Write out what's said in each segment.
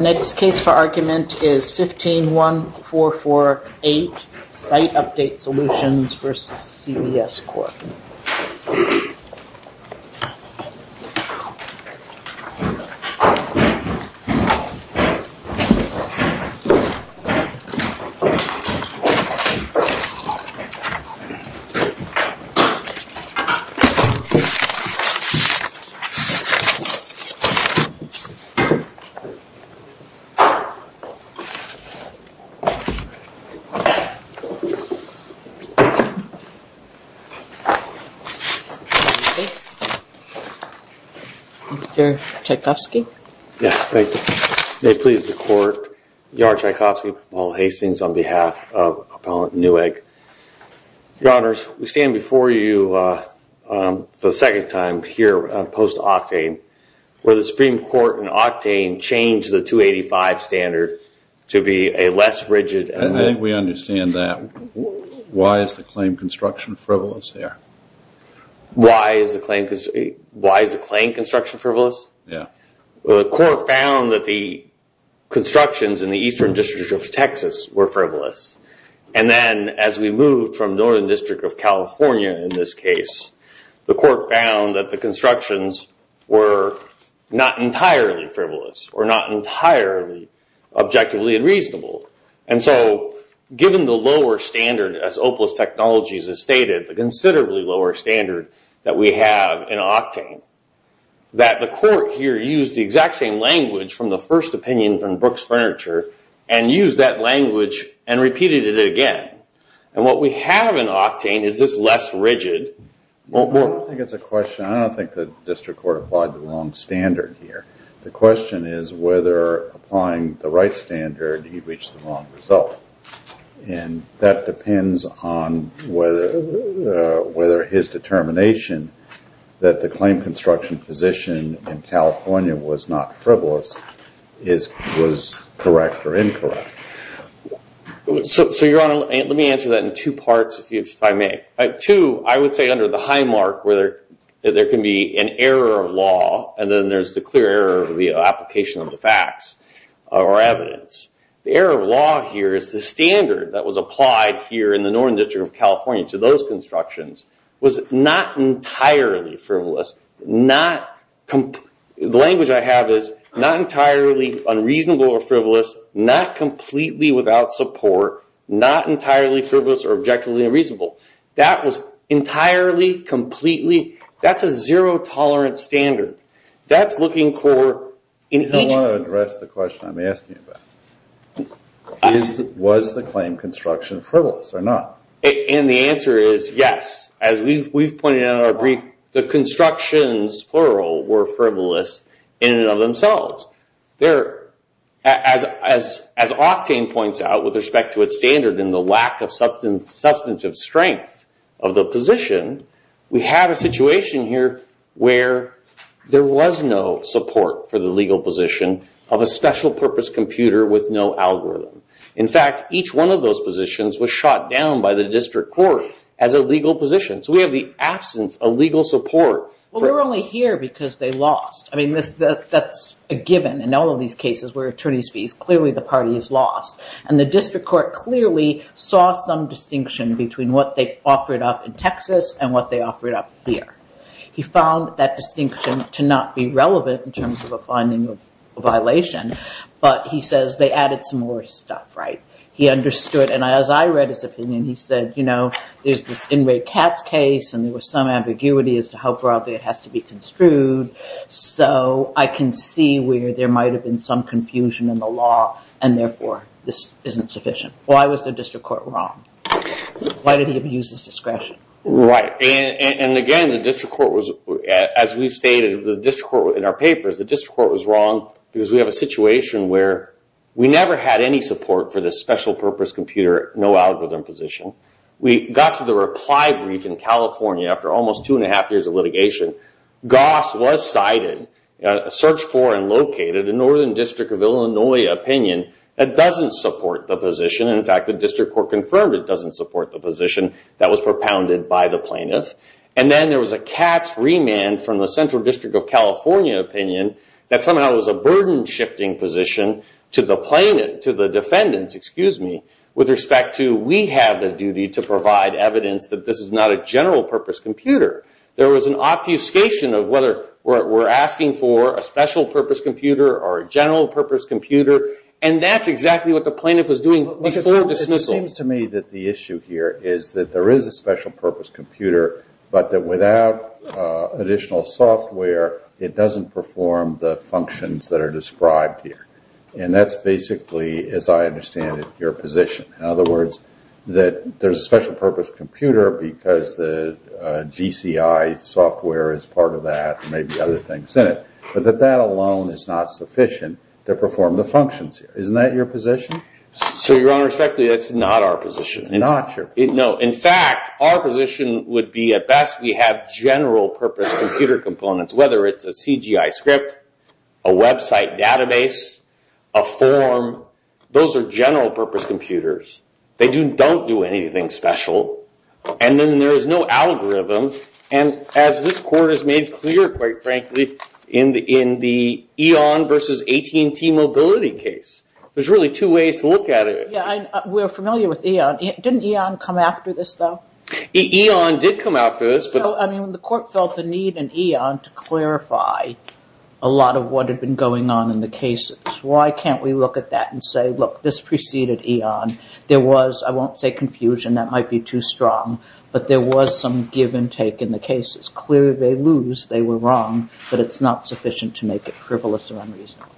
Next case for argument is 151448 Site Update Solutions v. CBS Corp. Mr. Tchaikovsky Yes, thank you. May it please the court, Yahr Tchaikovsky, Paul Hastings on behalf of Appellant Newegg. Your Honors, we stand before you for the second time here post-Octane. Where the Supreme Court in Octane changed the 285 standard to be a less rigid... I think we understand that. Why is the claim construction frivolous here? Why is the claim construction frivolous? Yeah. Well, the court found that the constructions in the Eastern District of Texas were frivolous. And then, as we moved from Northern District of California in this case, the court found that the constructions were not entirely frivolous, or not entirely objectively unreasonable. And so, given the lower standard, as OPLUS Technologies has stated, the considerably lower standard that we have in Octane, that the court here used the exact same language from the first opinion from Brooks Furniture, and used that language and repeated it again. And what we have in Octane is this less rigid... I don't think it's a question. I don't think the district court applied the wrong standard here. The question is whether applying the right standard, he reached the wrong result. And that depends on whether his determination that the claim construction position in California was not frivolous was correct or incorrect. So, Your Honor, let me answer that in two parts, if I may. Two, I would say under the high mark where there can be an error of law, and then there's the clear error of the application of the facts or evidence. The error of law here is the standard that was applied here in the Northern District of California to those constructions was not entirely frivolous. The language I have is not entirely unreasonable or frivolous, not completely without support, not entirely frivolous or objectively unreasonable. That was entirely, completely, that's a zero-tolerance standard. That's looking for... I want to address the question I'm asking about. Was the claim construction frivolous or not? And the answer is yes. As we've pointed out in our brief, the constructions, plural, were frivolous in and of themselves. As Octane points out with respect to its standard and the lack of substantive strength of the position, we have a situation here where there was no support for the legal position of a special-purpose computer with no algorithm. In fact, each one of those positions was shot down by the district court as a legal position. So we have the absence of legal support. Well, we're only here because they lost. I mean, that's a given in all of these cases where attorney's fees, clearly the party has lost. And the district court clearly saw some distinction between what they offered up in Texas and what they offered up here. He found that distinction to not be relevant in terms of a finding of a violation, but he says they added some more stuff, right? He understood. And as I read his opinion, he said, you know, there's this Inmate Katz case, and there was some ambiguity as to how broadly it has to be construed. So I can see where there might have been some confusion in the law, and therefore this isn't sufficient. Why was the district court wrong? Why did he abuse his discretion? Right. And again, the district court was, as we've stated, the district court in our papers, the district court was wrong because we have a situation where we never had any support for this special purpose computer, no algorithm position. We got to the reply brief in California after almost two and a half years of litigation. Goss was cited, searched for, and located in Northern District of Illinois opinion that doesn't support the position. In fact, the district court confirmed it doesn't support the position that was propounded by the plaintiff. And then there was a Katz remand from the Central District of California opinion that somehow was a burden-shifting position to the plaintiff, to the defendants, excuse me, with respect to we have the duty to provide evidence that this is not a general purpose computer. There was an obfuscation of whether we're asking for a special purpose computer or a general purpose computer, and that's exactly what the plaintiff was doing before dismissal. It seems to me that the issue here is that there is a special purpose computer, but that without additional software, it doesn't perform the functions that are described here. And that's basically, as I understand it, your position. In other words, that there's a special purpose computer because the GCI software is part of that, and maybe other things in it, but that that alone is not sufficient to perform the functions. Isn't that your position? So, Your Honor, respectfully, that's not our position. It's not? No. In fact, our position would be at best we have general purpose computer components, whether it's a CGI script, a website database, a form. Those are general purpose computers. They don't do anything special. And then there is no algorithm. And as this Court has made clear, quite frankly, in the EON versus AT&T mobility case, there's really two ways to look at it. Yeah, we're familiar with EON. Didn't EON come after this, though? EON did come after this. So, I mean, the Court felt the need in EON to clarify a lot of what had been going on in the case. Why can't we look at that and say, look, this preceded EON. There was, I won't say confusion, that might be too strong, but there was some give and take in the case. It's clear they lose, they were wrong, but it's not sufficient to make it frivolous or unreasonable.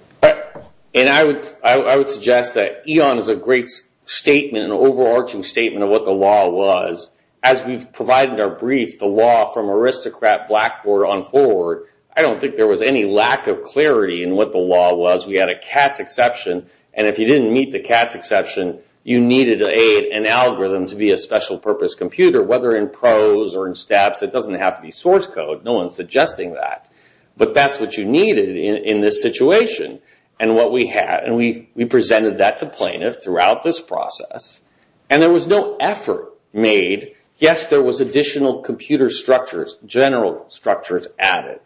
And I would suggest that EON is a great statement, an overarching statement of what the law was. As we've provided our brief, the law from aristocrat blackboard on forward, I don't think there was any lack of clarity in what the law was. We had a CATS exception, and if you didn't meet the CATS exception, you needed an algorithm to be a special purpose computer, whether in prose or in steps. It doesn't have to be source code. No one's suggesting that. But that's what you needed in this situation. And we presented that to plaintiffs throughout this process. And there was no effort made. Yes, there was additional computer structures, general structures added.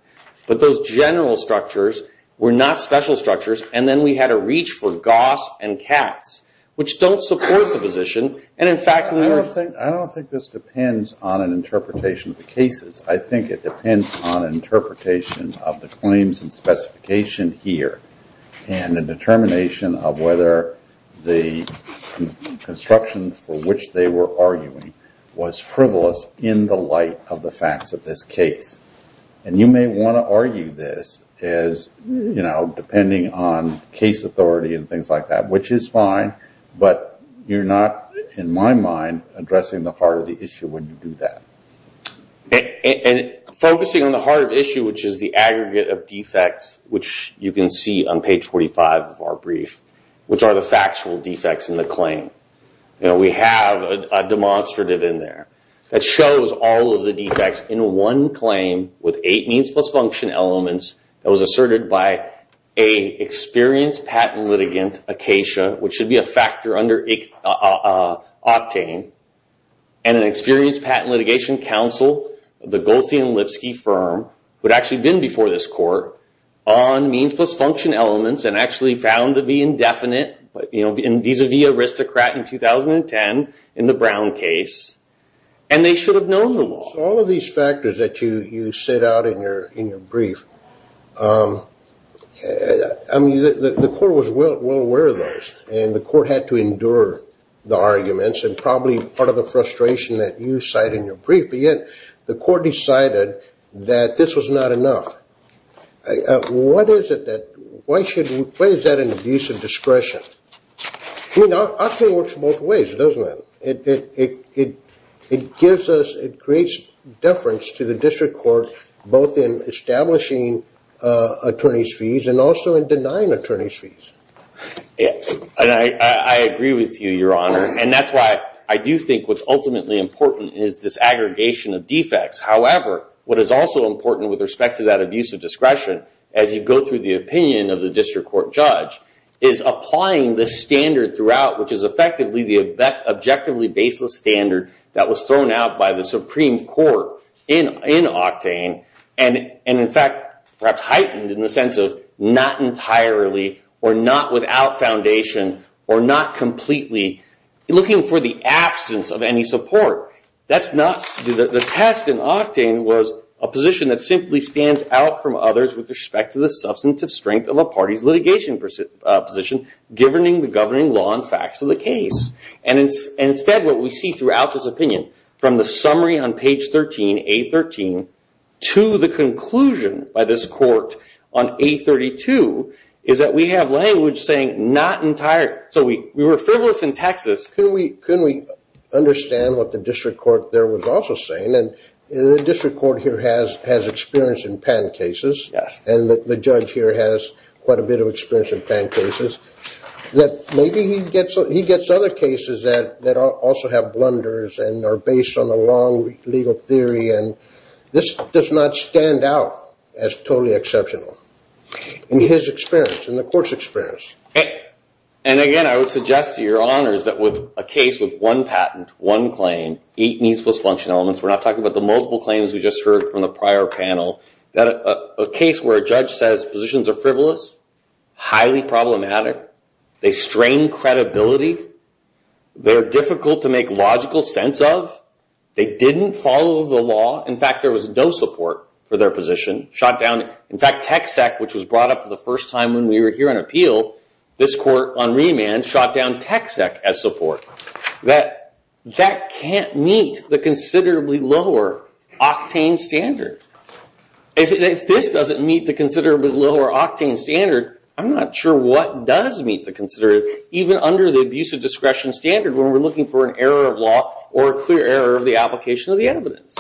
But those general structures were not special structures. And then we had a reach for GOSS and CATS, which don't support the position. And, in fact... I don't think this depends on an interpretation of the cases. I think it depends on interpretation of the claims and specification here and the determination of whether the construction for which they were arguing was frivolous in the light of the facts of this case. And you may want to argue this as, you know, depending on case authority and things like that, which is fine, but you're not, in my mind, addressing the heart of the issue when you do that. And focusing on the heart of the issue, which is the aggregate of defects, which you can see on page 45 of our brief, which are the factual defects in the claim. We have a demonstrative in there that shows all of the defects in one claim with eight means-plus-function elements that was asserted by an experienced patent litigant, Acacia, which should be a factor under Octane, and an experienced patent litigation counsel, the Goldstein-Lipski firm, who had actually been before this court on means-plus-function elements and actually found to be indefinite, you know, vis-a-vis aristocrat in 2010 in the Brown case. And they should have known the law. So all of these factors that you set out in your brief, I mean, the court was well aware of those, and the court had to endure the arguments, and probably part of the frustration that you cite in your brief, but yet the court decided that this was not enough. What is it that, why is that an abuse of discretion? I mean, Octane works both ways, doesn't it? It gives us, it creates deference to the district court, both in establishing attorney's fees and also in denying attorney's fees. I agree with you, Your Honor, and that's why I do think what's ultimately important is this aggregation of defects. However, what is also important with respect to that abuse of discretion, as you go through the opinion of the district court judge, is applying the standard throughout, which is effectively the objectively baseless standard that was thrown out by the Supreme Court in Octane, and in fact perhaps heightened in the sense of not entirely, or not without foundation, or not completely, looking for the absence of any support. That's not, the test in Octane was a position that simply stands out from others with respect to the substantive strength of a party's litigation position, given the governing law and facts of the case. Instead, what we see throughout this opinion, from the summary on page 13, A13, to the conclusion by this court on A32, is that we have language saying not entirely, so we were frivolous in Texas. Can we understand what the district court there was also saying? The district court here has experience in patent cases, and the judge here has quite a bit of experience in patent cases. Maybe he gets other cases that also have blunders, and are based on a long legal theory. This does not stand out as totally exceptional, in his experience, in the court's experience. Again, I would suggest to your honors that with a case with one patent, one claim, eight means plus function elements, we're not talking about the multiple claims we just heard from the prior panel, that a case where a judge says positions are frivolous, highly problematic, they strain credibility, they're difficult to make logical sense of, they didn't follow the law, in fact, there was no support for their position, shot down, in fact, TechSec, which was brought up the first time when we were here on appeal, this court on remand shot down TechSec as support. That can't meet the considerably lower octane standard. If this doesn't meet the considerably lower octane standard, I'm not sure what does meet the standard, even under the abuse of discretion standard, when we're looking for an error of law, or a clear error of the application of the evidence.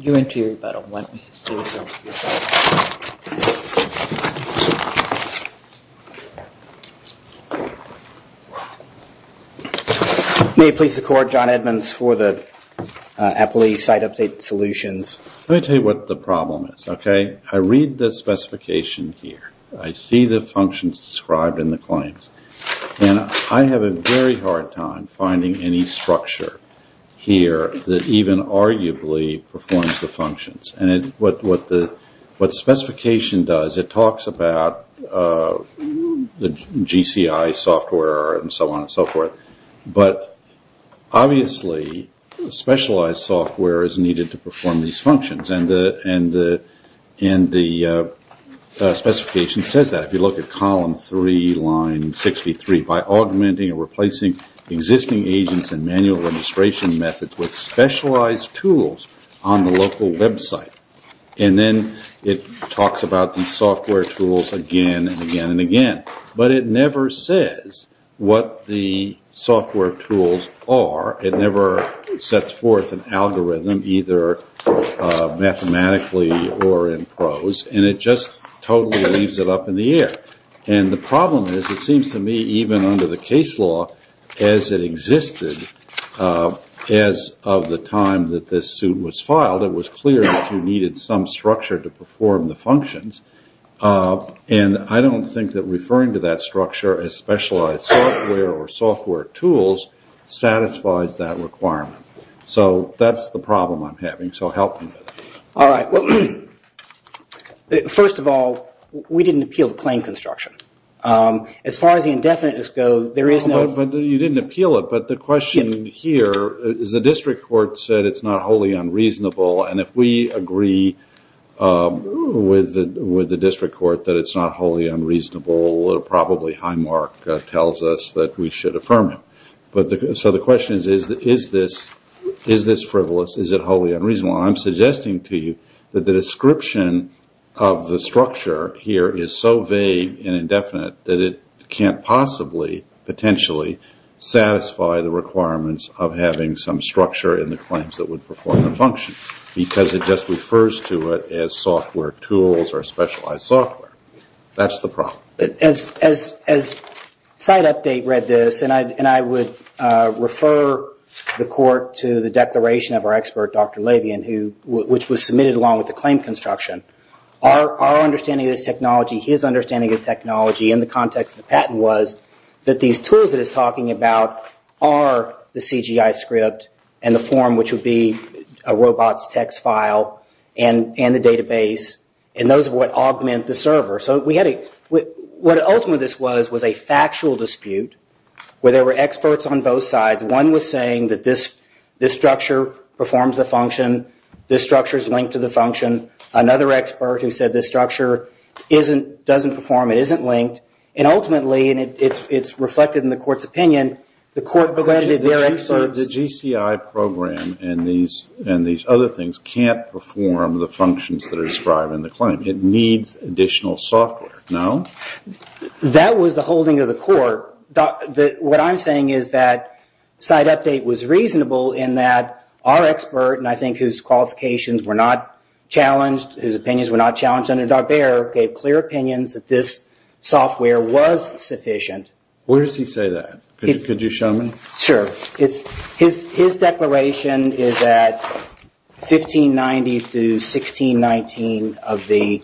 You went to your rebuttal. Let me see what's on your file. May it please the court, John Edmonds, for the appellee site update solutions. Let me tell you what the problem is, okay? I read the specification here, I see the functions described in the claims, and I have a very hard time finding any structure here that even arguably performs the functions, and what the specification does, it talks about the GCI software and so on and so forth, but obviously specialized software is needed to perform these functions, and the specification says that. If you look at column 3, line 63, by augmenting or replacing existing agents and manual registration methods with specialized tools on the local website, and then it talks about these software tools again and again and again, but it never says what the software tools are. It never sets forth an algorithm, either mathematically or in prose, and it just totally leaves it up in the air, and the problem is, it seems to me, even under the case law, as it existed as of the time that this suit was filed, it was clear that you needed some structure to perform the functions, and I don't think that referring to that structure as specialized software or software tools satisfies that requirement. So that's the problem I'm having, so help me with it. All right, well, first of all, we didn't appeal the claim construction. As far as the indefiniteness goes, there is no... But you didn't appeal it, but the question here is the district court said it's not wholly unreasonable, and if we agree with the district court that it's not wholly unreasonable, probably Highmark tells us that we should affirm it. So the question is, is this frivolous? Is it wholly unreasonable? I'm suggesting to you that the description of the structure here is so vague and indefinite that it can't possibly, potentially, satisfy the requirements of having some structure in the claims that would perform the functions, because it just refers to it as software tools or specialized software. That's the problem. As Site Update read this, and I would refer the court to the declaration of our expert, Dr. Levien, which was submitted along with the claim construction, our understanding of this technology, his understanding of technology in the context of the patent was that these tools that he's talking about are the CGI script and the form, which would be a robot's text file, and the database, and those are what augment the server. So we had a... What ultimately this was was a factual dispute where there were experts on both sides. One was saying that this structure performs a function, this structure is linked to the function. Another expert who said this structure doesn't perform, it isn't linked, and ultimately, and it's reflected in the court's opinion, the court credited their experts... The GCI program and these other things can't perform the functions that are described in the claim. It needs additional software, no? That was the holding of the court. What I'm saying is that Site Update was reasonable in that our expert, and I think whose qualifications were not challenged, whose opinions were not challenged under Darbair, gave clear opinions that this software was sufficient. Where does he say that? Could you show me? Sure. His declaration is at 1590 through 1619 of the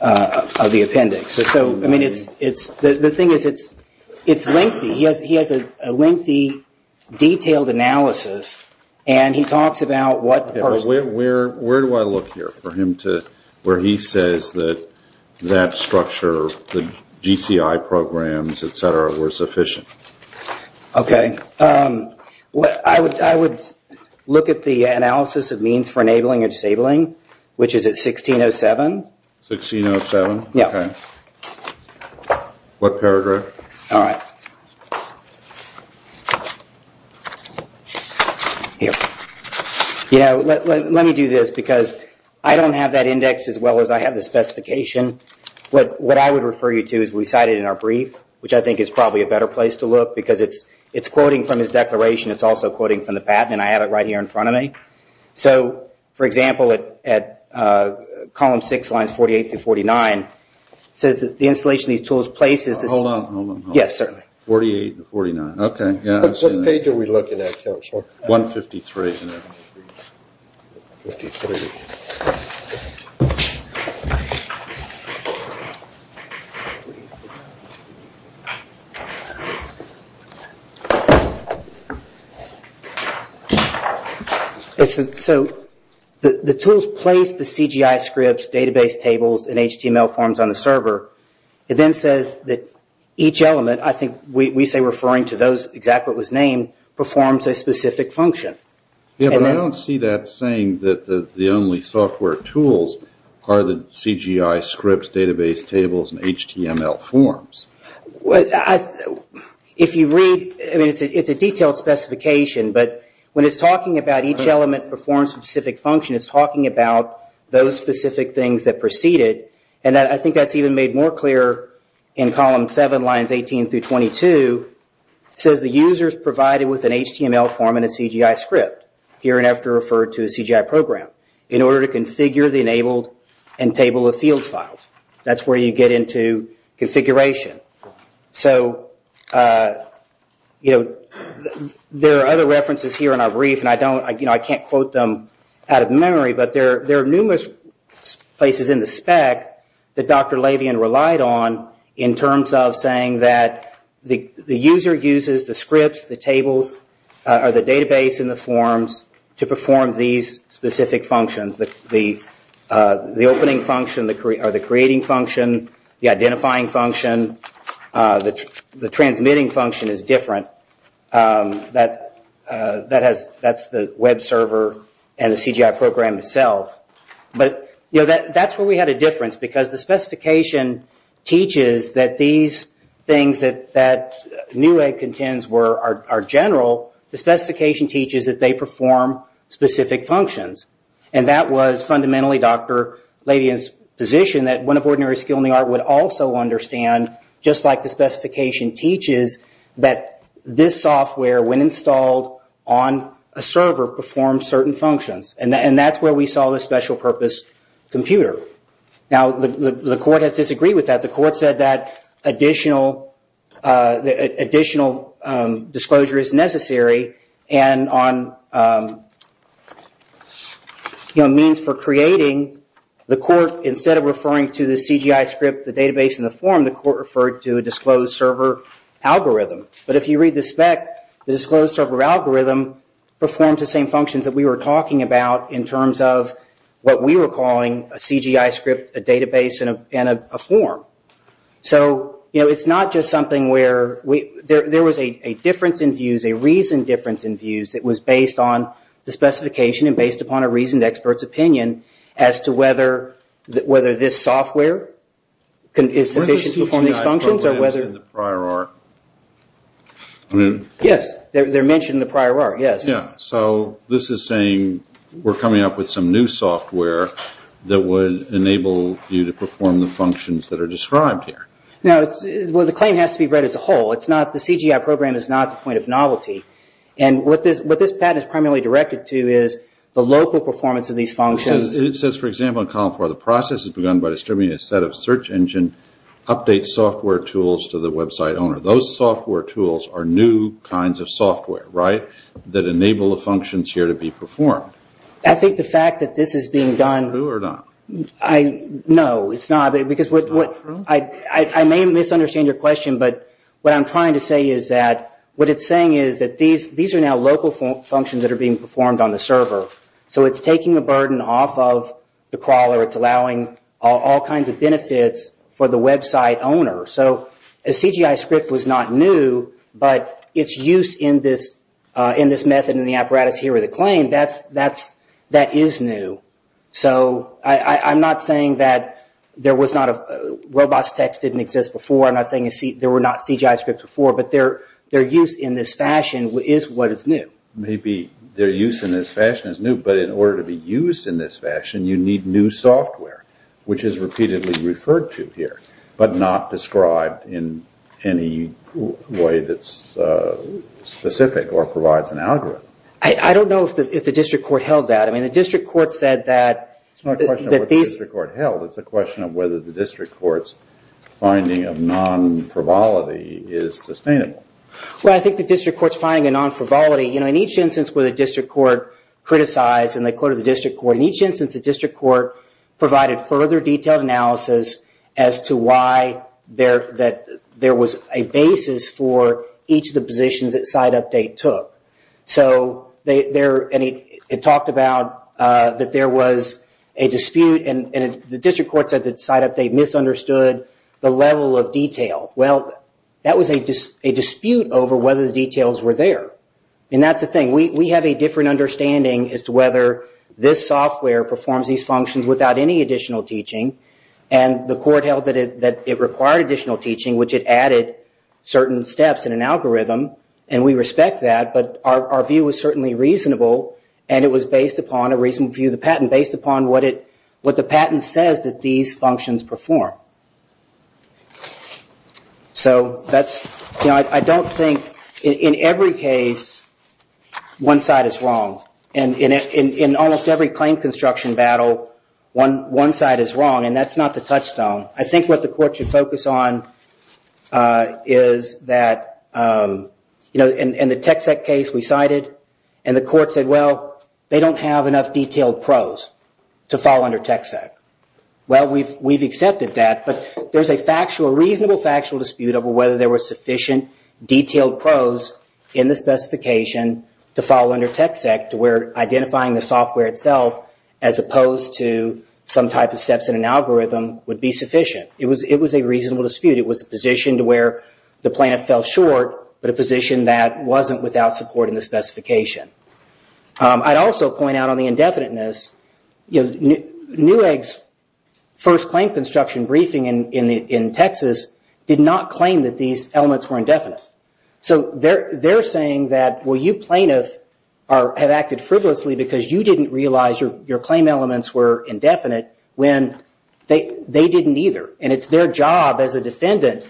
appendix. So, I mean, it's... The thing is, it's lengthy. He has a lengthy, detailed analysis, and he talks about what... Where do I look here for him to... Where he says that that structure, the GCI programs, et cetera, were sufficient. Okay. I would look at the analysis of means for enabling or disabling, which is at 1607. 1607? Yeah. Okay. What paragraph? All right. Here. You know, let me do this, because I don't have that index as well as I have the specification. What I would refer you to is we cite it in our brief, which I think is probably a better place to look, because it's quoting from his declaration. It's also quoting from the patent, and I have it right here in front of me. So, for example, at column six, lines 48 through 49, it says that the installation of these tools places... Hold on. Yes, sir. 48 to 49. Okay. What page are we looking at, counsel? 153. So the tools place the CGI scripts, database tables, and HTML forms on the server. It then says that each element, I think we say referring to those, performs a specific function. Yeah, but I don't see that saying that the only software tools are the CGI scripts, database tables, and HTML forms. If you read... I mean, it's a detailed specification, but when it's talking about each element performs a specific function, it's talking about those specific things that precede it, and I think that's even made more clear in column seven, lines 18 through 22. It says the user's provided with an HTML form and a CGI script, here and after referred to a CGI program, in order to configure the enabled and table of fields files. That's where you get into configuration. So, you know, there are other references here in our brief, and I can't quote them out of memory, but there are numerous places in the spec that Dr. Levien relied on in terms of saying that the user uses the scripts, the tables, or the database and the forms to perform these specific functions. The opening function, or the creating function, the identifying function, the transmitting function is different. That's the web server and the CGI program itself. But, you know, that's where we had a difference, because the specification teaches that these things that Newegg contends are general. The specification teaches that they perform specific functions, and that was fundamentally Dr. Levien's position that one of ordinary skill in the art would also understand, just like the specification teaches, that this software, when installed on a server, performs certain functions, and that's where we saw the special purpose computer. Now, the court has disagreed with that. The court said that additional disclosure is necessary, and on means for creating, the court, instead of referring to the CGI script, the database, and the form, the court referred to a disclosed server algorithm. But if you read the spec, the disclosed server algorithm performs the same functions that we were talking about in terms of what we were calling a CGI script, a database, and a form. So, you know, it's not just something where, there was a difference in views, a reasoned difference in views that was based on the specification and based upon a reasoned expert's opinion as to whether this software is sufficient to perform these functions. Yes, they're mentioned in the prior art, yes. Yes, so this is saying we're coming up with some new software that would enable you to perform the functions that are described here. Well, the claim has to be read as a whole. The CGI program is not the point of novelty. And what this patent is primarily directed to is the local performance of these functions. It says, for example, in column four, the process is begun by distributing a set of search engine update software tools to the website owner. Those software tools are new kinds of software, right, that enable the functions here to be performed. I think the fact that this is being done... True or not? No, it's not. I may misunderstand your question, but what I'm trying to say is that what it's saying is that these are now local functions that are being performed on the server. So it's taking the burden off of the crawler. It's allowing all kinds of benefits for the website owner. So a CGI script was not new, but its use in this method, in the apparatus here with the claim, that is new. So I'm not saying that there was not... robots.txt didn't exist before. I'm not saying there were not CGI scripts before, but their use in this fashion is what is new. Maybe their use in this fashion is new, but in order to be used in this fashion, you need new software, which is repeatedly referred to here, but not described in any way that's specific or provides an algorithm. I don't know if the district court held that. I mean, the district court said that... It's not a question of what the district court held. It's a question of whether the district court's finding of non-frivolity is sustainable. Well, I think the district court's finding of non-frivolity... You know, in each instance where the district court criticized and they quoted the district court, in each instance the district court provided further detailed analysis as to why there was a basis for each of the positions that SiteUpdate took. So it talked about that there was a dispute and the district court said that SiteUpdate misunderstood the level of detail. Well, that was a dispute over whether the details were there. And that's the thing. We have a different understanding as to whether this software performs these functions without any additional teaching. And the court held that it required additional teaching, which it added certain steps in an algorithm, and we respect that, but our view was certainly reasonable and it was based upon a reasonable view of the patent, based upon what the patent says that these functions perform. So that's... You know, I don't think in every case one side is wrong. And in almost every claim construction battle one side is wrong, and that's not the touchstone. I think what the court should focus on is that, you know, in the TxEC case we cited and the court said, well, they don't have enough detailed pros to fall under TxEC. Well, we've accepted that, but there's a reasonable factual dispute over whether there were sufficient detailed pros in the specification to fall under TxEC to where identifying the software itself as opposed to some type of steps in an algorithm would be sufficient. It was a reasonable dispute. It was a position to where the plaintiff fell short, but a position that wasn't without support in the specification. I'd also point out on the indefiniteness, you know, Newegg's first claim construction briefing in Texas did not claim that these elements were indefinite. So they're saying that, well, you plaintiff have acted frivolously because you didn't realize your claim elements were indefinite when they didn't either. And it's their job as a defendant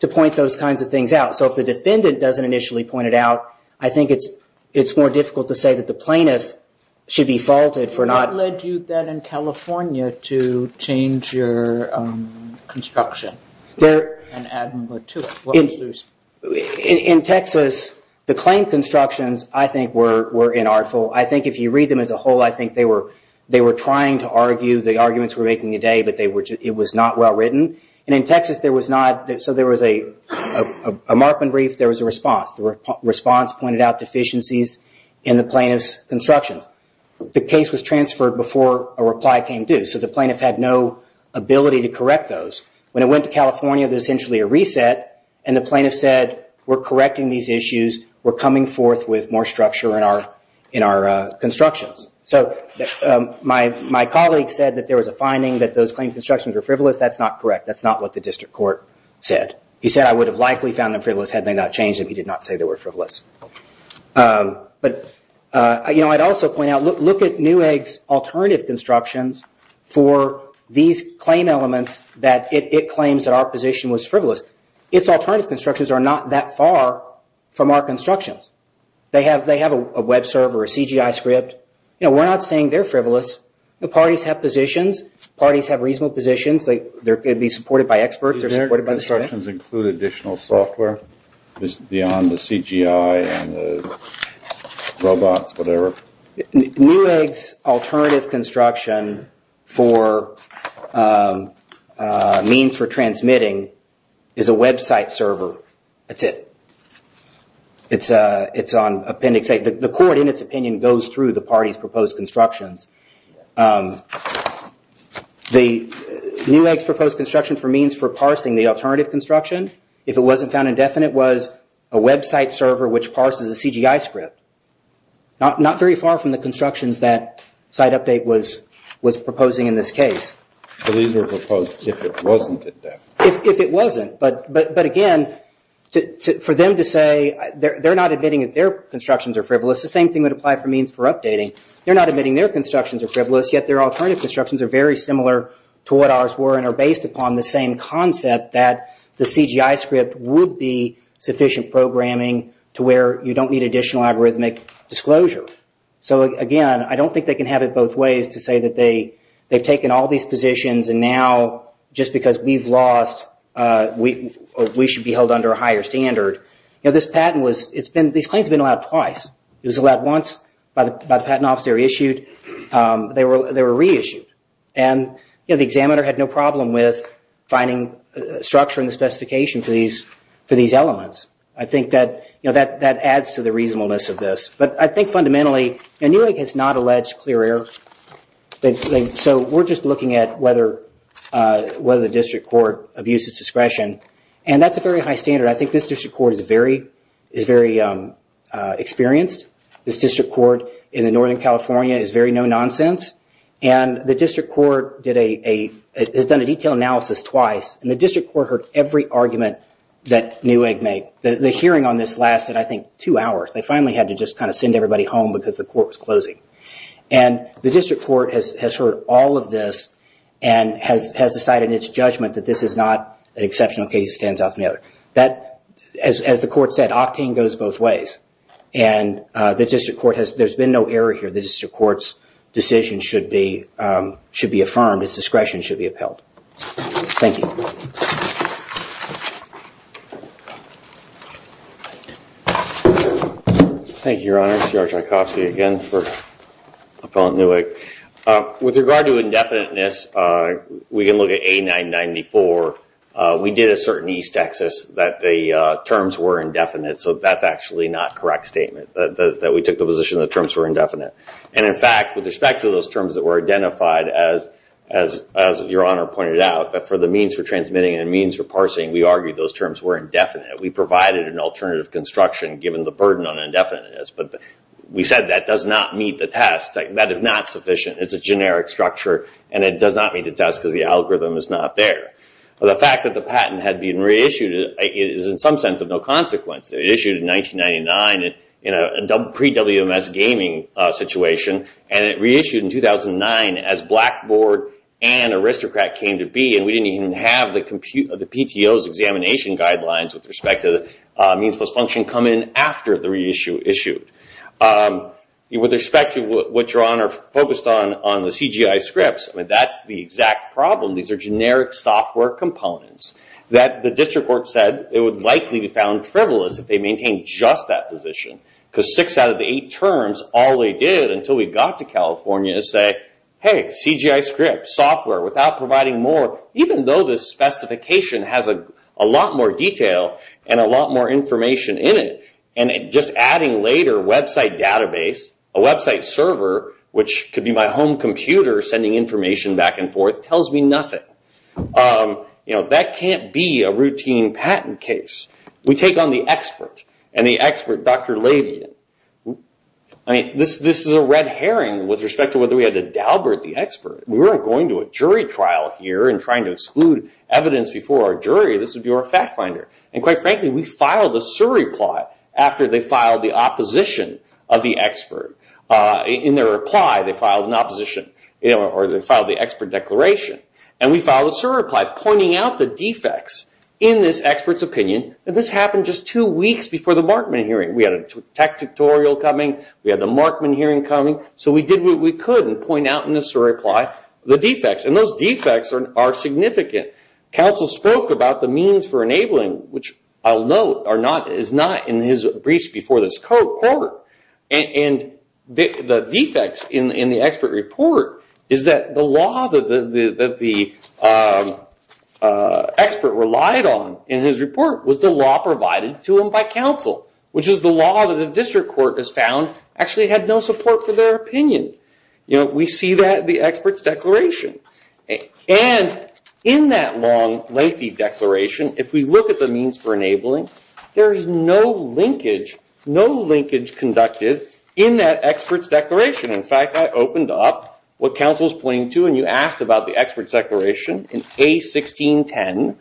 to point those kinds of things out. So if the defendant doesn't initially point it out, I think it's more difficult to say that the plaintiff should be faulted for not... What led you then in California to change your construction? And add number two. In Texas, the claim constructions, I think, were inartful. I think if you read them as a whole, I think they were trying to argue. The arguments were making the day, but it was not well written. And in Texas, there was not... So there was a markman brief. There was a response. The response pointed out deficiencies in the plaintiff's constructions. The case was transferred before a reply came due. So the plaintiff had no ability to correct those. When it went to California, there was essentially a reset. And the plaintiff said, we're correcting these issues. We're coming forth with more structure in our constructions. So my colleague said that there was a finding that those claim constructions were frivolous. That's not correct. That's not what the district court said. He said, I would have likely found them frivolous had they not changed if he did not say they were frivolous. But I'd also point out, look at Newegg's alternative constructions for these claim elements that it claims that our position was frivolous. Its alternative constructions are not that far from our constructions. They have a web server, a CGI script. We're not saying they're frivolous. The parties have positions. Parties have reasonable positions. They could be supported by experts. Do their constructions include additional software beyond the CGI and the robots, whatever? Newegg's alternative construction for means for transmitting is a website server. That's it. It's on appendix A. The court, in its opinion, goes through the parties' proposed constructions. Newegg's proposed construction for means for parsing the alternative construction, if it wasn't found indefinite, was a website server which parses a CGI script. Not very far from the constructions that SiteUpdate was proposing in this case. These were proposed if it wasn't indefinite. If it wasn't. But again, for them to say they're not admitting that their constructions are frivolous, the same thing would apply for means for updating. They're not admitting their constructions are frivolous, yet their alternative constructions are very similar to what ours were and are based upon the same concept that the CGI script would be sufficient programming to where you don't need additional algorithmic disclosure. Again, I don't think they can have it both ways to say that they've taken all these positions and now, just because we've lost, we should be held under a higher standard. This patent was... These claims have been allowed twice. It was allowed once by the patent officer issued. They were reissued. And the examiner had no problem with finding structure in the specification for these elements. I think that adds to the reasonableness of this. But I think fundamentally... And NEWEG has not alleged clear error. So we're just looking at whether the district court abuses discretion. And that's a very high standard. I think this district court is very experienced. This district court in Northern California is very no-nonsense. And the district court did a... has done a detailed analysis twice. And the district court heard every argument that NEWEG made. The hearing on this lasted, I think, two hours. They finally had to just kind of send everybody home because the court was closing. And the district court has heard all of this and has decided in its judgment that this is not an exceptional case. It stands out from the other. That, as the court said, octane goes both ways. And the district court has... There's been no error here. The district court's decision should be... should be affirmed. Its discretion should be upheld. Thank you. Thank you, Your Honor. C.R. Tchaikovsky again for Appellant Newick. With regard to indefiniteness, we can look at A994. We did assert in East Texas that the terms were indefinite. So that's actually not correct statement that we took the position the terms were indefinite. And, in fact, with respect to those terms that were identified, as Your Honor pointed out, that for the means for transmitting and the means for parsing, we argued those terms were indefinite. We provided an alternative construction given the burden on indefiniteness. But we said that does not meet the test. That is not sufficient. It's a generic structure. And it does not meet the test because the algorithm is not there. The fact that the patent had been reissued is, in some sense, of no consequence. It was issued in 1999 in a pre-WMS gaming situation. And it reissued in 2009 as Blackboard and Aristocrat came to be. And we didn't even have the PTO's examination guidelines with respect to the means plus function come in after the reissue issued. With respect to what Your Honor focused on, on the CGI scripts, that's the exact problem. These are generic software components that the district court said it would likely be found frivolous if they maintained just that position. Because six out of the eight terms, all they did until we got to California, is say, hey, CGI scripts, software, without providing more, even though the specification has a lot more detail and a lot more information in it. And just adding later, website database, a website server, which could be my home computer sending information back and forth, tells me nothing. That can't be a routine patent case. We take on the expert, and the expert, Dr. Lavian. This is a red herring with respect to whether we had to dalbert the expert. We weren't going to a jury trial here and trying to exclude evidence before our jury. This would be our fact finder. And quite frankly, we filed a surreply after they filed the opposition of the expert. In their reply, they filed an opposition, or they filed the expert declaration. And we filed a surreply pointing out the defects in this expert's opinion. And this happened just two weeks before the Markman hearing. We had a tech tutorial coming. We had the Markman hearing coming. So we did what we could and point out in a surreply the defects. And those defects are significant. Counsel spoke about the means for enabling, which I'll note, is not in his briefs before this court. And the defects in the expert report is that the law that the expert relied on in his report was the law provided to him by counsel, which is the law that the district court has found actually had no support for their opinion. We see that in the expert's declaration. And in that long, lengthy declaration, if we look at the means for enabling, there's no linkage, no linkage conducted in that expert's declaration. In fact, I opened up what counsel's pointing to, and you asked about the expert's declaration in A1610.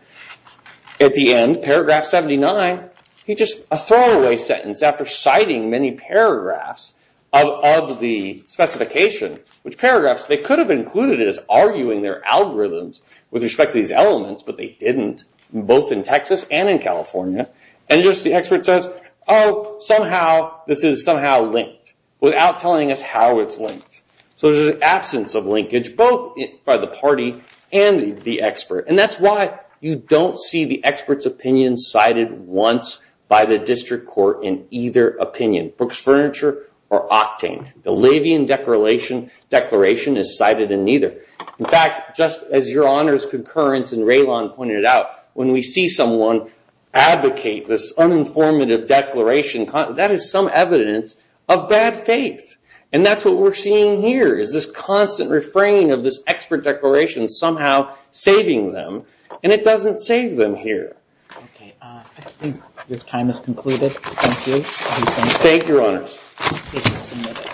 At the end, paragraph 79, he just, a throwaway sentence, after citing many paragraphs of the specification, which paragraphs they could have included as arguing their algorithms with respect to these elements, but they didn't, both in Texas and in California. And just the expert says, oh, somehow this is somehow linked without telling us how it's linked. So there's an absence of linkage, both by the party and the expert. And that's why you don't see the expert's opinion cited once by the district court in either opinion. Brooks Furniture or Octane. The Levian Declaration is cited in neither. In fact, just as your honors concurrence and Raylon pointed out, when we see someone advocate this uninformative declaration, that is some evidence of bad faith. And that's what we're seeing here, is this constant refraining of this expert declaration somehow saving them, and it doesn't save them here. I think your time is concluded. Thank you. Thank you, your honors.